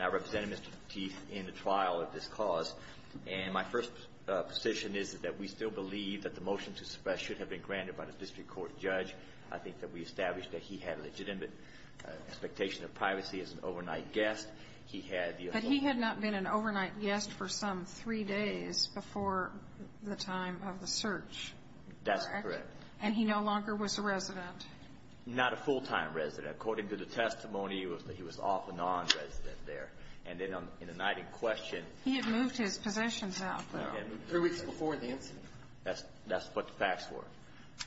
I represent Mr. Teeth in the trial of this cause and my first position is that we still believe that the motion to suppress should have been granted by the district court judge. I think that we established that he had legitimate expectation of privacy as an overnight guest. But he had not been an overnight guest for some three days before the time of the search, correct? That's correct. And he no longer was a resident? Not a full-time resident. According to the testimony, he was off and on resident there. And then in the night in question He had moved his possessions out though. Three weeks before the incident. That's what the facts were.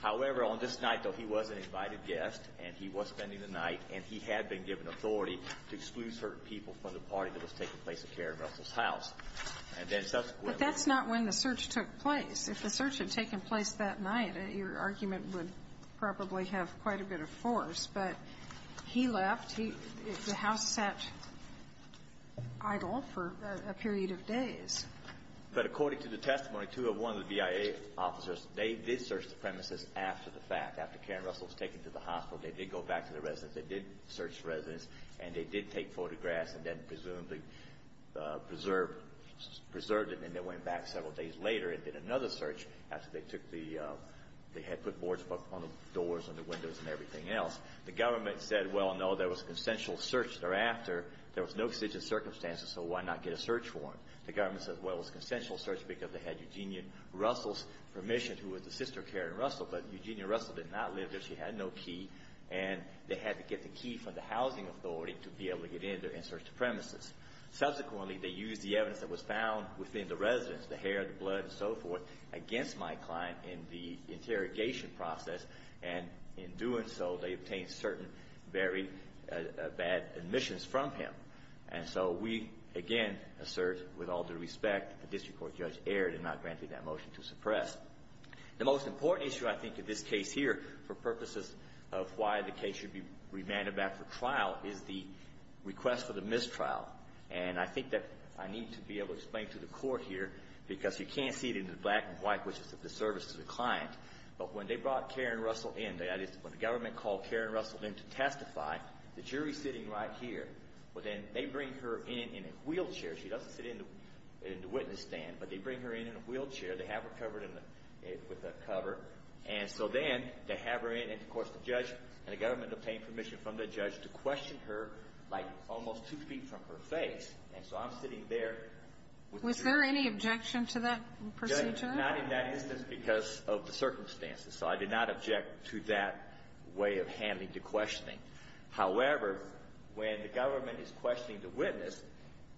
However, on this night though, he was an invited guest and he was spending the night and he had been given authority to exclude certain people from the party that was taking place at Karen Russell's house. And then subsequently But that's not when the search took place. If the search had taken place that night, your argument would probably have quite a bit of force. But he left. The house sat idle for a period of days. But according to the testimony, two of one of the V.I.A. officers, they did search the premises after the fact. They did go back to the residence. They did search the residence. And they did take photographs and then presumably preserved it. And then they went back several days later and did another search after they took the They had put boards on the doors and the windows and everything else. The government said, well, no, there was a consensual search thereafter. There was no exigent circumstances, so why not get a search warrant? The government said, well, it was a consensual search because they had Eugenia Russell's permission, who was the sister of Karen Russell. But Eugenia Russell did not live there. She had no key. And they had to get the key from the housing authority to be able to get in there and search the premises. Subsequently, they used the evidence that was found within the residence, the hair, the blood and so forth, against my client in the interrogation process. And in doing so, they obtained certain very bad admissions from him. And so we, again, assert with all due respect, the district court judge erred and not granted that motion to suppress. The most important issue, I think, in this case here, for purposes of why the case should be remanded back for trial, is the request for the mistrial. And I think that I need to be able to explain to the court here, because you can't see it in the black and white, which is a disservice to the client. But when they brought Karen Russell in, that is, when the government called Karen Russell in to testify, the jury's sitting right here. But then they bring her in in a wheelchair. She doesn't sit in the witness stand, but they bring her in in a wheelchair. They have her covered with a cover. And so then they have her in. And, of course, the judge and the government obtained permission from the judge to question her, like, almost two feet from her face. And so I'm sitting there. Was there any objection to that procedure? Not in that instance because of the circumstances. So I did not object to that way of handling the questioning. However, when the government is questioning the witness,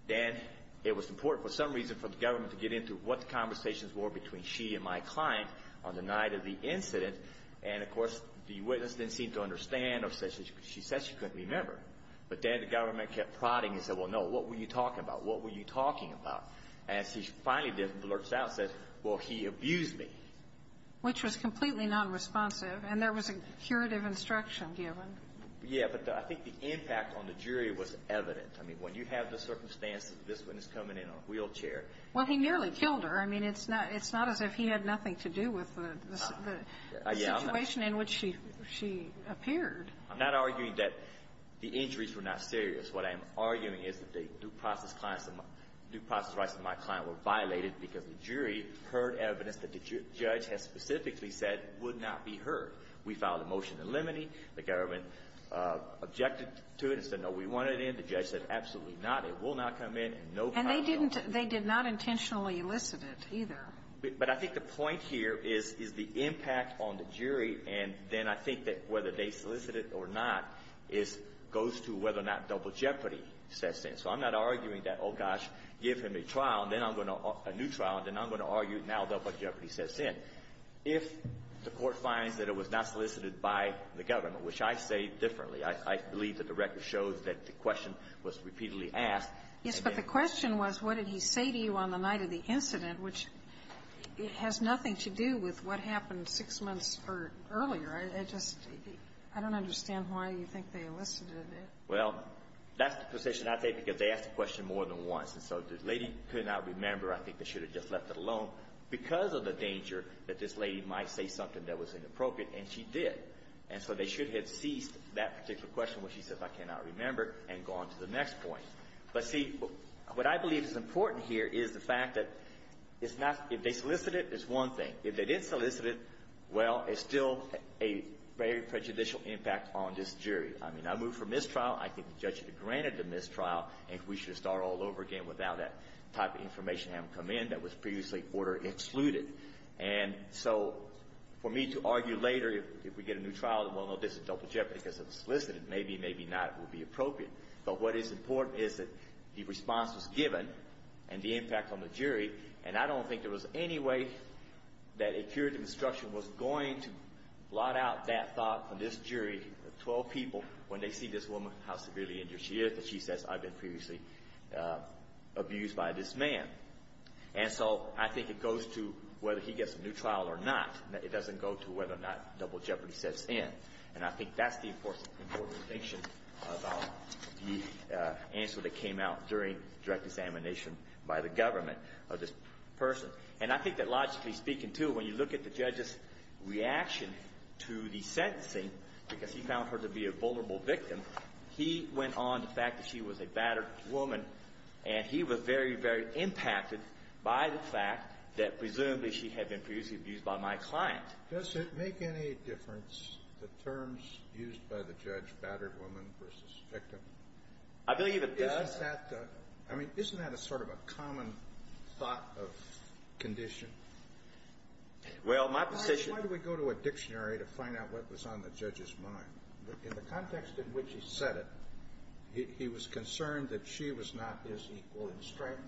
then it was important for some reason for the government to get into what the conversations were between she and my client on the night of the incident. And, of course, the witness didn't seem to understand or she said she couldn't remember. But then the government kept prodding and said, well, no, what were you talking about? What were you talking about? And she finally blurted out and said, well, he abused me. Which was completely nonresponsive. And there was a curative instruction given. Yeah. But I think the impact on the jury was evident. I mean, when you have the circumstances, this witness coming in in a wheelchair. Well, he nearly killed her. I mean, it's not as if he had nothing to do with the situation in which she appeared. I'm not arguing that the injuries were not serious. What I'm arguing is that the due process rights of my client were violated because the jury heard evidence that the judge had specifically said would not be heard. We filed a motion in limine. The government objected to it and said, no, we want it in. The judge said, absolutely not. It will not come in. And they didn't. They did not intentionally elicit it, either. But I think the point here is the impact on the jury. And then I think that whether they solicit it or not is goes to whether or not double jeopardy sets in. So I'm not arguing that, oh, gosh, give him a trial. And then I'm going to argue a new trial. And then I'm going to argue now double jeopardy sets in. If the Court finds that it was not solicited by the government, which I say differently – I believe that the record shows that the question was repeatedly asked. Yes, but the question was what did he say to you on the night of the incident, which has nothing to do with what happened six months earlier. I just – I don't understand why you think they elicited it. Well, that's the position I take because they asked the question more than once. And so if the lady could not remember, I think they should have just left it alone because of the danger that this lady might say something that was inappropriate. And she did. And so they should have ceased that particular question where she says I cannot remember and gone to the next point. But, see, what I believe is important here is the fact that it's not – if they solicited it, it's one thing. If they didn't solicit it, well, it's still a very prejudicial impact on this jury. I mean, I move for mistrial. I think the judge should have granted the mistrial. And we should have started all over again without that type of information having come in that was previously order excluded. And so for me to argue later if we get a new trial that, well, no, this is double jeopardy because it was solicited, maybe, maybe not would be appropriate. But what is important is that the response was given and the impact on the jury. And I don't think there was any way that a jury of instruction was going to blot out that thought from this jury of 12 people when they see this woman, how severely injured she is, and that she says, I've been previously abused by this man. And so I think it goes to whether he gets a new trial or not. It doesn't go to whether or not double jeopardy sets in. And I think that's the important distinction about the answer that came out during direct examination by the government of this person. And I think that logically speaking, too, when you look at the judge's reaction to the sentencing because he found her to be a vulnerable victim, he went on the fact that she was a battered woman and he was very, very impacted by the fact that presumably she had been previously abused by my client. Does it make any difference, the terms used by the judge, battered woman versus victim? I believe it does. Is that the – I mean, isn't that a sort of a common thought of condition? Well, my position – Why do we go to a dictionary to find out what was on the judge's mind? In the context in which he said it, he was concerned that she was not his equal in strength,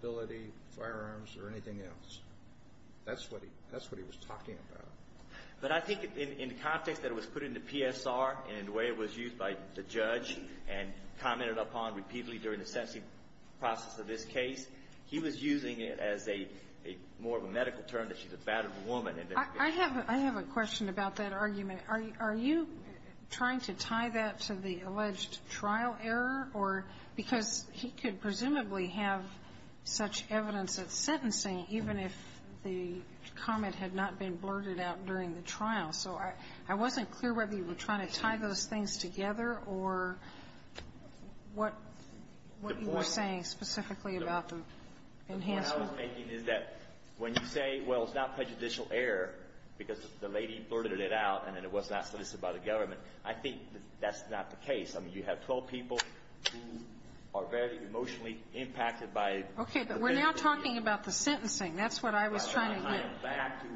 ability, firearms, or anything else. That's what he was talking about. But I think in the context that it was put into PSR and the way it was used by the judge and commented upon repeatedly during the sentencing process of this case, he was using it as a – more of a medical term that she's a battered woman. I have a question about that argument. Are you trying to tie that to the alleged trial error or – because he could presumably have such evidence at sentencing even if the comment had not been blurted out during the trial. So I wasn't clear whether you were trying to tie those things together or what you were saying specifically about the enhancement. What I was making is that when you say, well, it's not prejudicial error because the lady blurted it out and it was not solicited by the government, I think that's not the case. I mean, you have 12 people who are very emotionally impacted by a medical error. Okay. But we're now talking about the sentencing. That's what I was trying to get. I am back to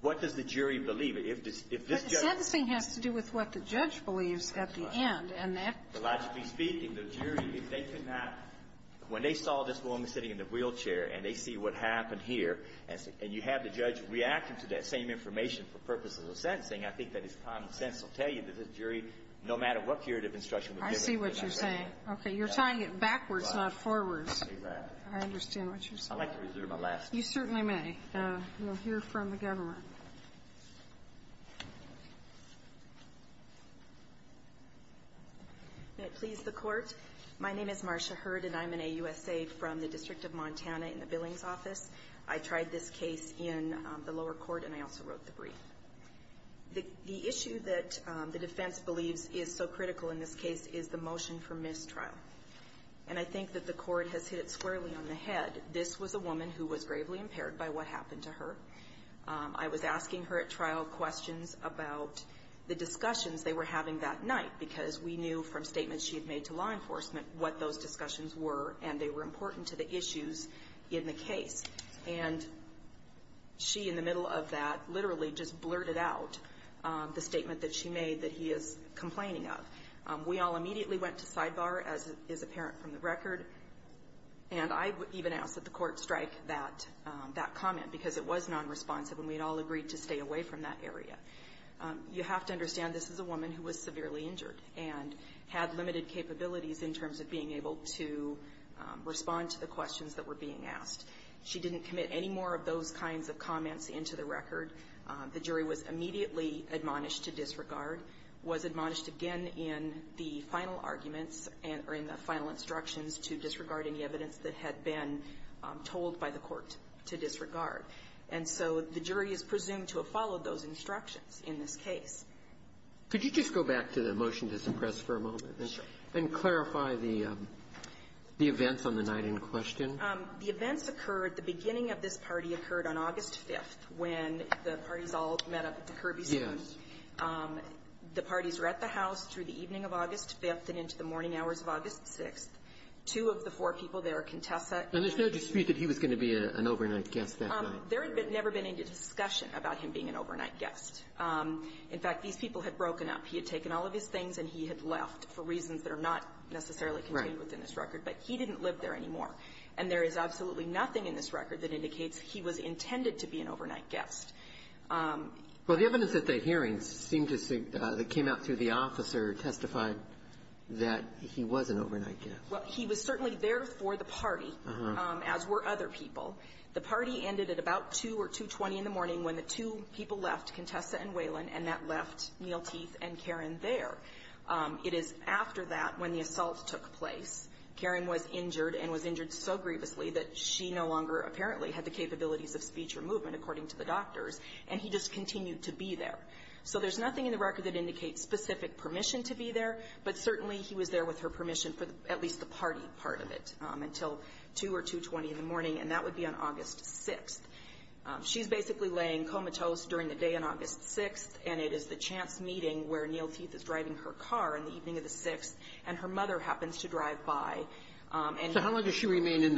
what does the jury believe? If this judge – But the sentencing has to do with what the judge believes at the end, and that – If you saw this woman sitting in the wheelchair and they see what happened here, and you have the judge reacting to that same information for purposes of sentencing, I think that it's common sense to tell you that the jury, no matter what period of instruction was given – I see what you're saying. Okay. You're tying it backwards, not forwards. I understand what you're saying. I'd like to reserve my last word. You certainly may. We'll hear from the government. May it please the Court. My name is Marcia Hurd, and I'm an AUSA from the District of Montana in the Billings Office. I tried this case in the lower court, and I also wrote the brief. The issue that the defense believes is so critical in this case is the motion for mistrial. And I think that the Court has hit it squarely on the head. This was a woman who was gravely impaired by what happened to her. I was asking her at trial questions about the discussions they were having that night, because we knew from statements she had made to law enforcement what those discussions were, and they were important to the issues in the case. And she, in the middle of that, literally just blurted out the statement that she made that he is complaining of. We all immediately went to sidebar, as is apparent from the record. And I even asked that the Court strike that comment, because it was nonresponsive and we had all agreed to stay away from that area. You have to understand this is a woman who was severely injured and had limited capabilities in terms of being able to respond to the questions that were being asked. She didn't commit any more of those kinds of comments into the record. The jury was immediately admonished to disregard, was admonished again in the final arguments or in the final instructions to disregard any evidence that had been told by the Court to disregard. And so the jury is presumed to have followed those instructions in this case. Could you just go back to the motion to suppress for a moment and clarify the events on the night in question? The events occurred, the beginning of this party occurred on August 5th, when the parties all met up at the Kirby's house. Yes. The parties were at the house through the evening of August 5th and into the morning hours of August 6th. Two of the four people there, Contessa and her husband. And there's no dispute that he was going to be an overnight guest that night? There had never been any discussion about him being an overnight guest. In fact, these people had broken up. He had taken all of his things and he had left for reasons that are not necessarily contained within this record. Right. But he didn't live there anymore. And there is absolutely nothing in this record that indicates he was intended to be an overnight guest. Well, the evidence at that hearing seemed to say that came out through the officer testified that he was an overnight guest. Well, he was certainly there for the party, as were other people. The party ended at about 2 or 2.20 in the morning when the two people left, Contessa and Waylon, and that left Neal Teeth and Karen there. It is after that when the assault took place. Karen was injured and was injured so grievously that she no longer apparently had the capabilities of speech or movement, according to the doctors, and he just continued to be there. So there's nothing in the record that indicates specific permission to be there, but certainly he was there with her permission for at least the party part of it until 2 or 2.20 in the morning, and that would be on August 6th. She's basically laying comatose during the day on August 6th, and it is the chance meeting where Neal Teeth is driving her car in the evening of the 6th, and her mother happens to drive by. So how long does she remain in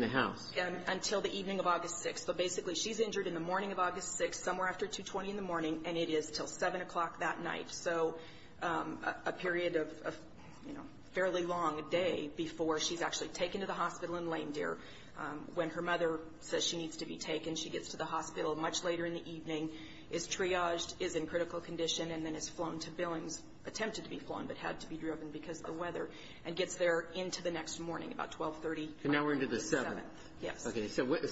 the house? Until the evening of August 6th. So basically she's injured in the morning of August 6th, somewhere after 2.20 in the morning, and it is until 7 o'clock that night. So a period of, you know, a fairly long day before she's actually taken to the hospital in Lane Deer. When her mother says she needs to be taken, she gets to the hospital much later in the evening, is triaged, is in critical condition, and then is flown to Billings, attempted to be flown but had to be driven because of the weather, and gets there into the next morning, about 12.30. And now we're into the 7th. Yes.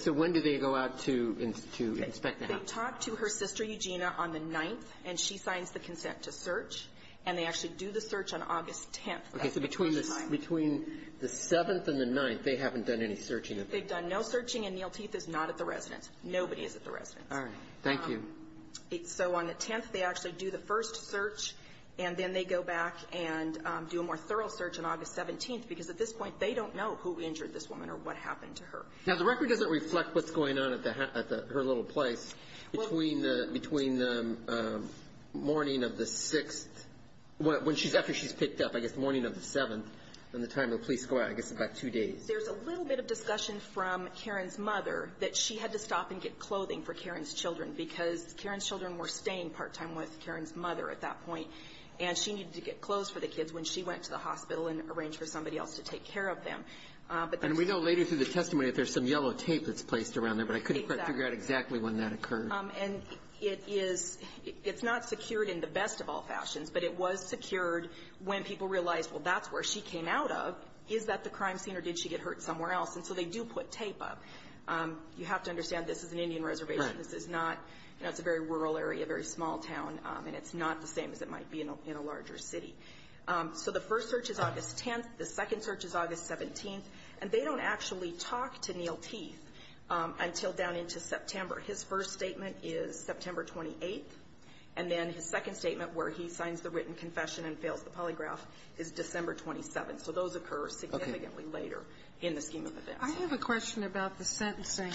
So when do they go out to inspect the house? They talk to her sister, Eugenia, on the 9th, and she signs the consent to search, and they actually do the search on August 10th. Okay. So between the 7th and the 9th, they haven't done any searching? They've done no searching, and Neal Teeth is not at the residence. Nobody is at the residence. All right. Thank you. So on the 10th, they actually do the first search, and then they go back and do a more thorough search on August 17th, because at this point, they don't know who injured this woman or what happened to her. Now, the record doesn't reflect what's going on at her little place between the morning of the 6th, after she's picked up, I guess, the morning of the 7th, and the time the police go out, I guess, about two days. There's a little bit of discussion from Karen's mother that she had to stop and get clothing for Karen's children because Karen's children were staying part-time with Karen's mother at that point, and she needed to get clothes for the kids when she went to the hospital and arranged for somebody else to take care of them. And we know later through the testimony that there's some yellow tape that's placed around there, but I couldn't quite figure out exactly when that occurred. And it is – it's not secured in the best of all fashions, but it was secured when people realized, well, that's where she came out of. Is that the crime scene, or did she get hurt somewhere else? And so they do put tape up. You have to understand this is an Indian reservation. Right. This is not – you know, it's a very rural area, a very small town, and it's not the same as it might be in a larger city. So the first search is August 10th. The second search is August 17th. And they don't actually talk to Neal Teeth until down into September. His first statement is September 28th. And then his second statement, where he signs the written confession and fails the polygraph, is December 27th. So those occur significantly later in the scheme of events. I have a question about the sentencing,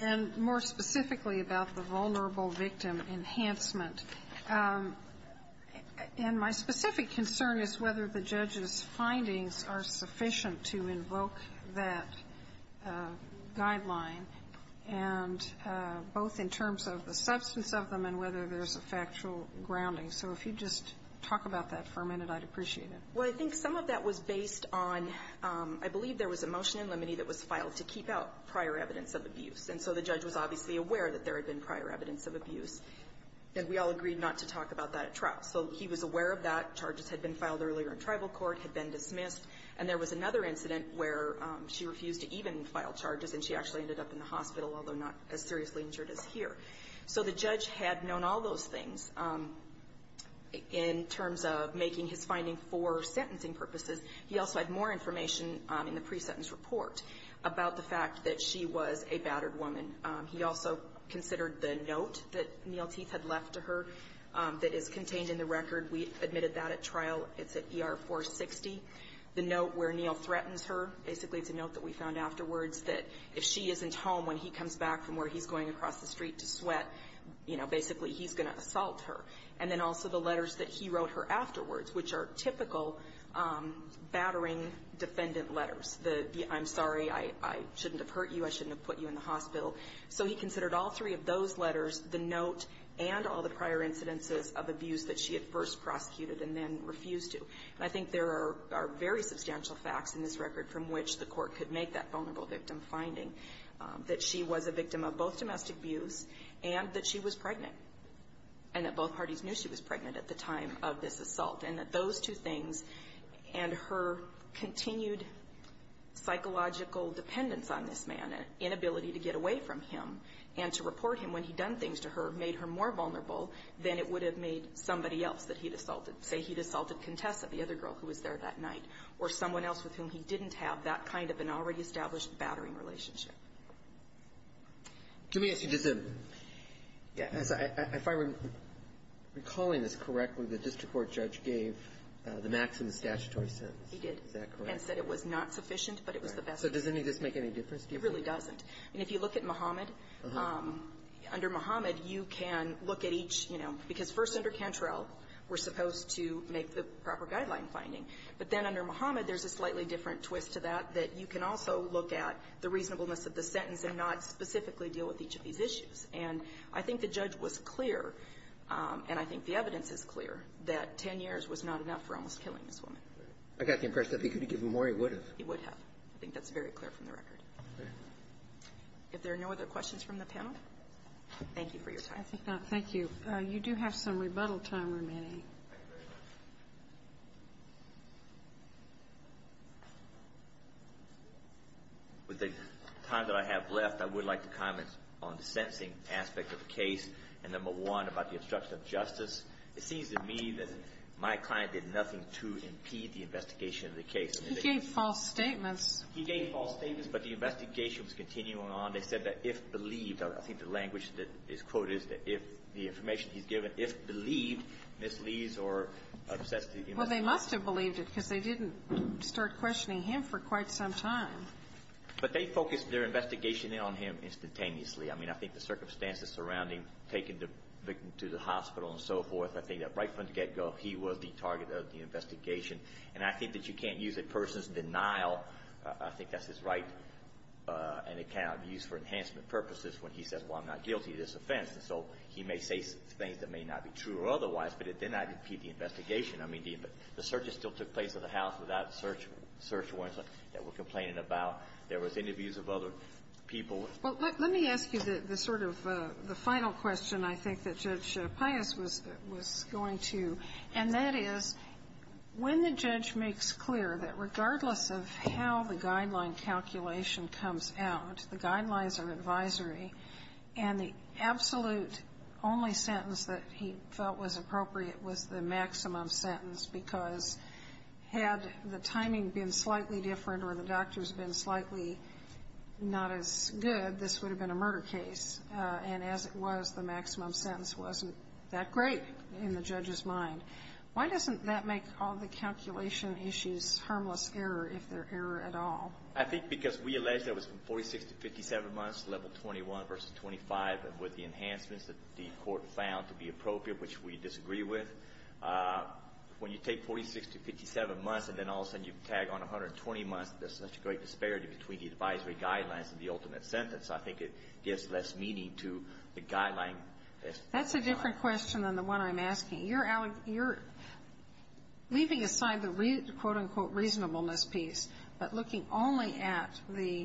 and more specifically about the vulnerable victim enhancement. And my specific concern is whether the judge's findings are sufficient to invoke that guideline, and both in terms of the substance of them and whether there's a factual grounding. So if you'd just talk about that for a minute, I'd appreciate it. Well, I think some of that was based on – I believe there was a motion in limine that was filed to keep out prior evidence of abuse. And so the judge was obviously aware that there had been prior evidence of abuse. And we all agreed not to talk about that at trial. So he was aware of that. Charges had been filed earlier in tribal court, had been dismissed. And there was another incident where she refused to even file charges, and she actually ended up in the hospital, although not as seriously injured as here. So the judge had known all those things. In terms of making his finding for sentencing purposes, he also had more information in the pre-sentence report about the fact that she was a battered woman. He also considered the note that Neel Teeth had left to her that is contained in the record. We admitted that at trial. It's at ER-460. The note where Neel threatens her, basically it's a note that we found afterwards that if she isn't home when he comes back from where he's going across the street to sweat, you know, basically he's going to assault her. And then also the letters that he wrote her afterwards, which are typical battering defendant letters, the I'm sorry, I shouldn't have hurt you, I shouldn't have put you in the hospital. So he considered all three of those letters, the note and all the prior incidences of abuse that she had first prosecuted and then refused to. And I think there are very substantial facts in this record from which the Court could make that vulnerable victim finding, that she was a victim of both domestic abuse and that she was pregnant, and that both parties knew she was pregnant at the time of this assault. And that those two things and her continued psychological dependence on this man, an inability to get away from him, and to report him when he'd done things to her, made her more vulnerable than it would have made somebody else that he'd assaulted. Say he'd assaulted Contessa, the other girl who was there that night, or someone else with whom he didn't have that kind of an already established battering relationship. Let me ask you, does the – if I'm recalling this correctly, the district court judge gave the maximum statutory sentence. He did. Is that correct? And said it was not sufficient, but it was the best. Right. So does any of this make any difference to you? It really doesn't. I mean, if you look at Muhammad, under Muhammad, you can look at each, you know, because first under Cantrell, we're supposed to make the proper guideline finding. But then under Muhammad, there's a slightly different twist to that, that you can also look at the reasonableness of the sentence and not specifically deal with each of these issues. And I think the judge was clear, and I think the evidence is clear, that 10 years was not enough for almost killing this woman. I got the impression if he could have given more, he would have. He would have. I think that's very clear from the record. Okay. If there are no other questions from the panel, thank you for your time. I think that – thank you. You do have some rebuttal time remaining. Thank you very much. With the time that I have left, I would like to comment on the sentencing aspect of the case, and number one, about the obstruction of justice. It seems to me that my client did nothing to impede the investigation of the case. He gave false statements. He gave false statements, but the investigation was continuing on. They said that if believed – I think the language that is quoted is that if the Well, they must have believed it because they didn't start questioning him for quite some time. But they focused their investigation on him instantaneously. I mean, I think the circumstances surrounding taking the victim to the hospital and so forth, I think that right from the get-go, he was the target of the investigation. And I think that you can't use a person's denial. I think that's his right and it cannot be used for enhancement purposes when he says, well, I'm not guilty of this offense. And so he may say things that may not be true or otherwise, but it did not impede the investigation. I mean, the searches still took place at the house without search warrants that were complaining about. There was interviews of other people. Well, let me ask you the sort of the final question I think that Judge Pius was going to, and that is, when the judge makes clear that regardless of how the guideline calculation comes out, the guidelines are advisory, and the absolute only sentence that he felt was appropriate was the maximum sentence because had the timing been slightly different or the doctors been slightly not as good, this would have been a murder case. And as it was, the maximum sentence wasn't that great in the judge's mind. Why doesn't that make all the calculation issues harmless error, if they're error at all? I think because we allege that was from 46 to 57 months, level 21 versus 25, and with the enhancements that the court found to be appropriate, which we disagree with, when you take 46 to 57 months and then all of a sudden you tag on 120 months, there's such a great disparity between the advisory guidelines and the ultimate sentence. I think it gives less meaning to the guideline. That's a different question than the one I'm asking. You're leaving aside the quote, unquote, reasonableness piece, but looking only at the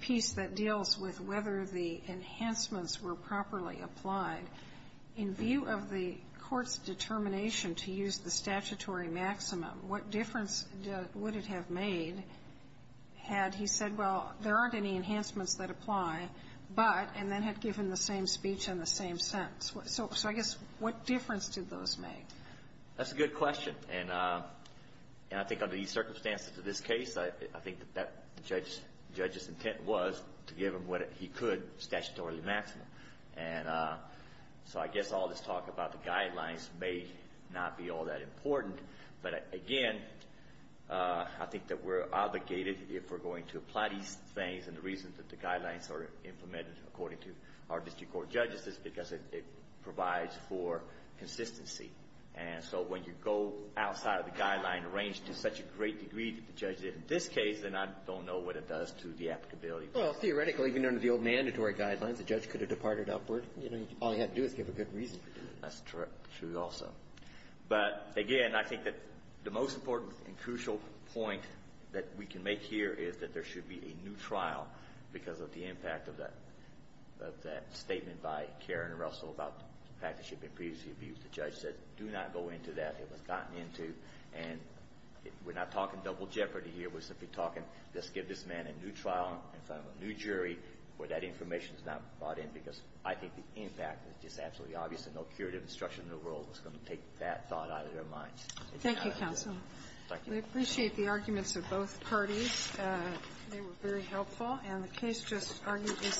piece that deals with whether the enhancements were properly applied. In view of the court's determination to use the statutory maximum, what difference would it have made had he said, well, there aren't any enhancements that apply, but, and then had given the same speech and the same sentence. So I guess what difference did those make? That's a good question. And I think under these circumstances in this case, I think the judge's intent was to give him what he could, statutorily maximum. And so I guess all this talk about the guidelines may not be all that important. But again, I think that we're obligated, if we're going to apply these things and the reasons that the guidelines are implemented according to our district court judges is because it provides for consistency. And so when you go outside of the guideline range to such a great degree that the judge did in this case, then I don't know what it does to the applicability. Well, theoretically, even under the old mandatory guidelines, the judge could have departed upward. You know, all he had to do was give a good reason to do it. That's true also. But again, I think that the most important and crucial point that we can make here is that there should be a new trial because of the impact of that statement by Karen Russell about the fact that she had been previously abused. The judge said, do not go into that. It was gotten into. And we're not talking double jeopardy here. We're simply talking, let's give this man a new trial in front of a new jury where that information is not brought in, because I think the impact is just absolutely obvious, and no curative instruction in the world is going to take that thought out of their minds. Thank you, counsel. We appreciate the arguments of both parties. They were very helpful. And the case just argued and submitted. Thank you. Thank you. Thank you. Thank you. Thank you. Thank you. Thank you. Thank you.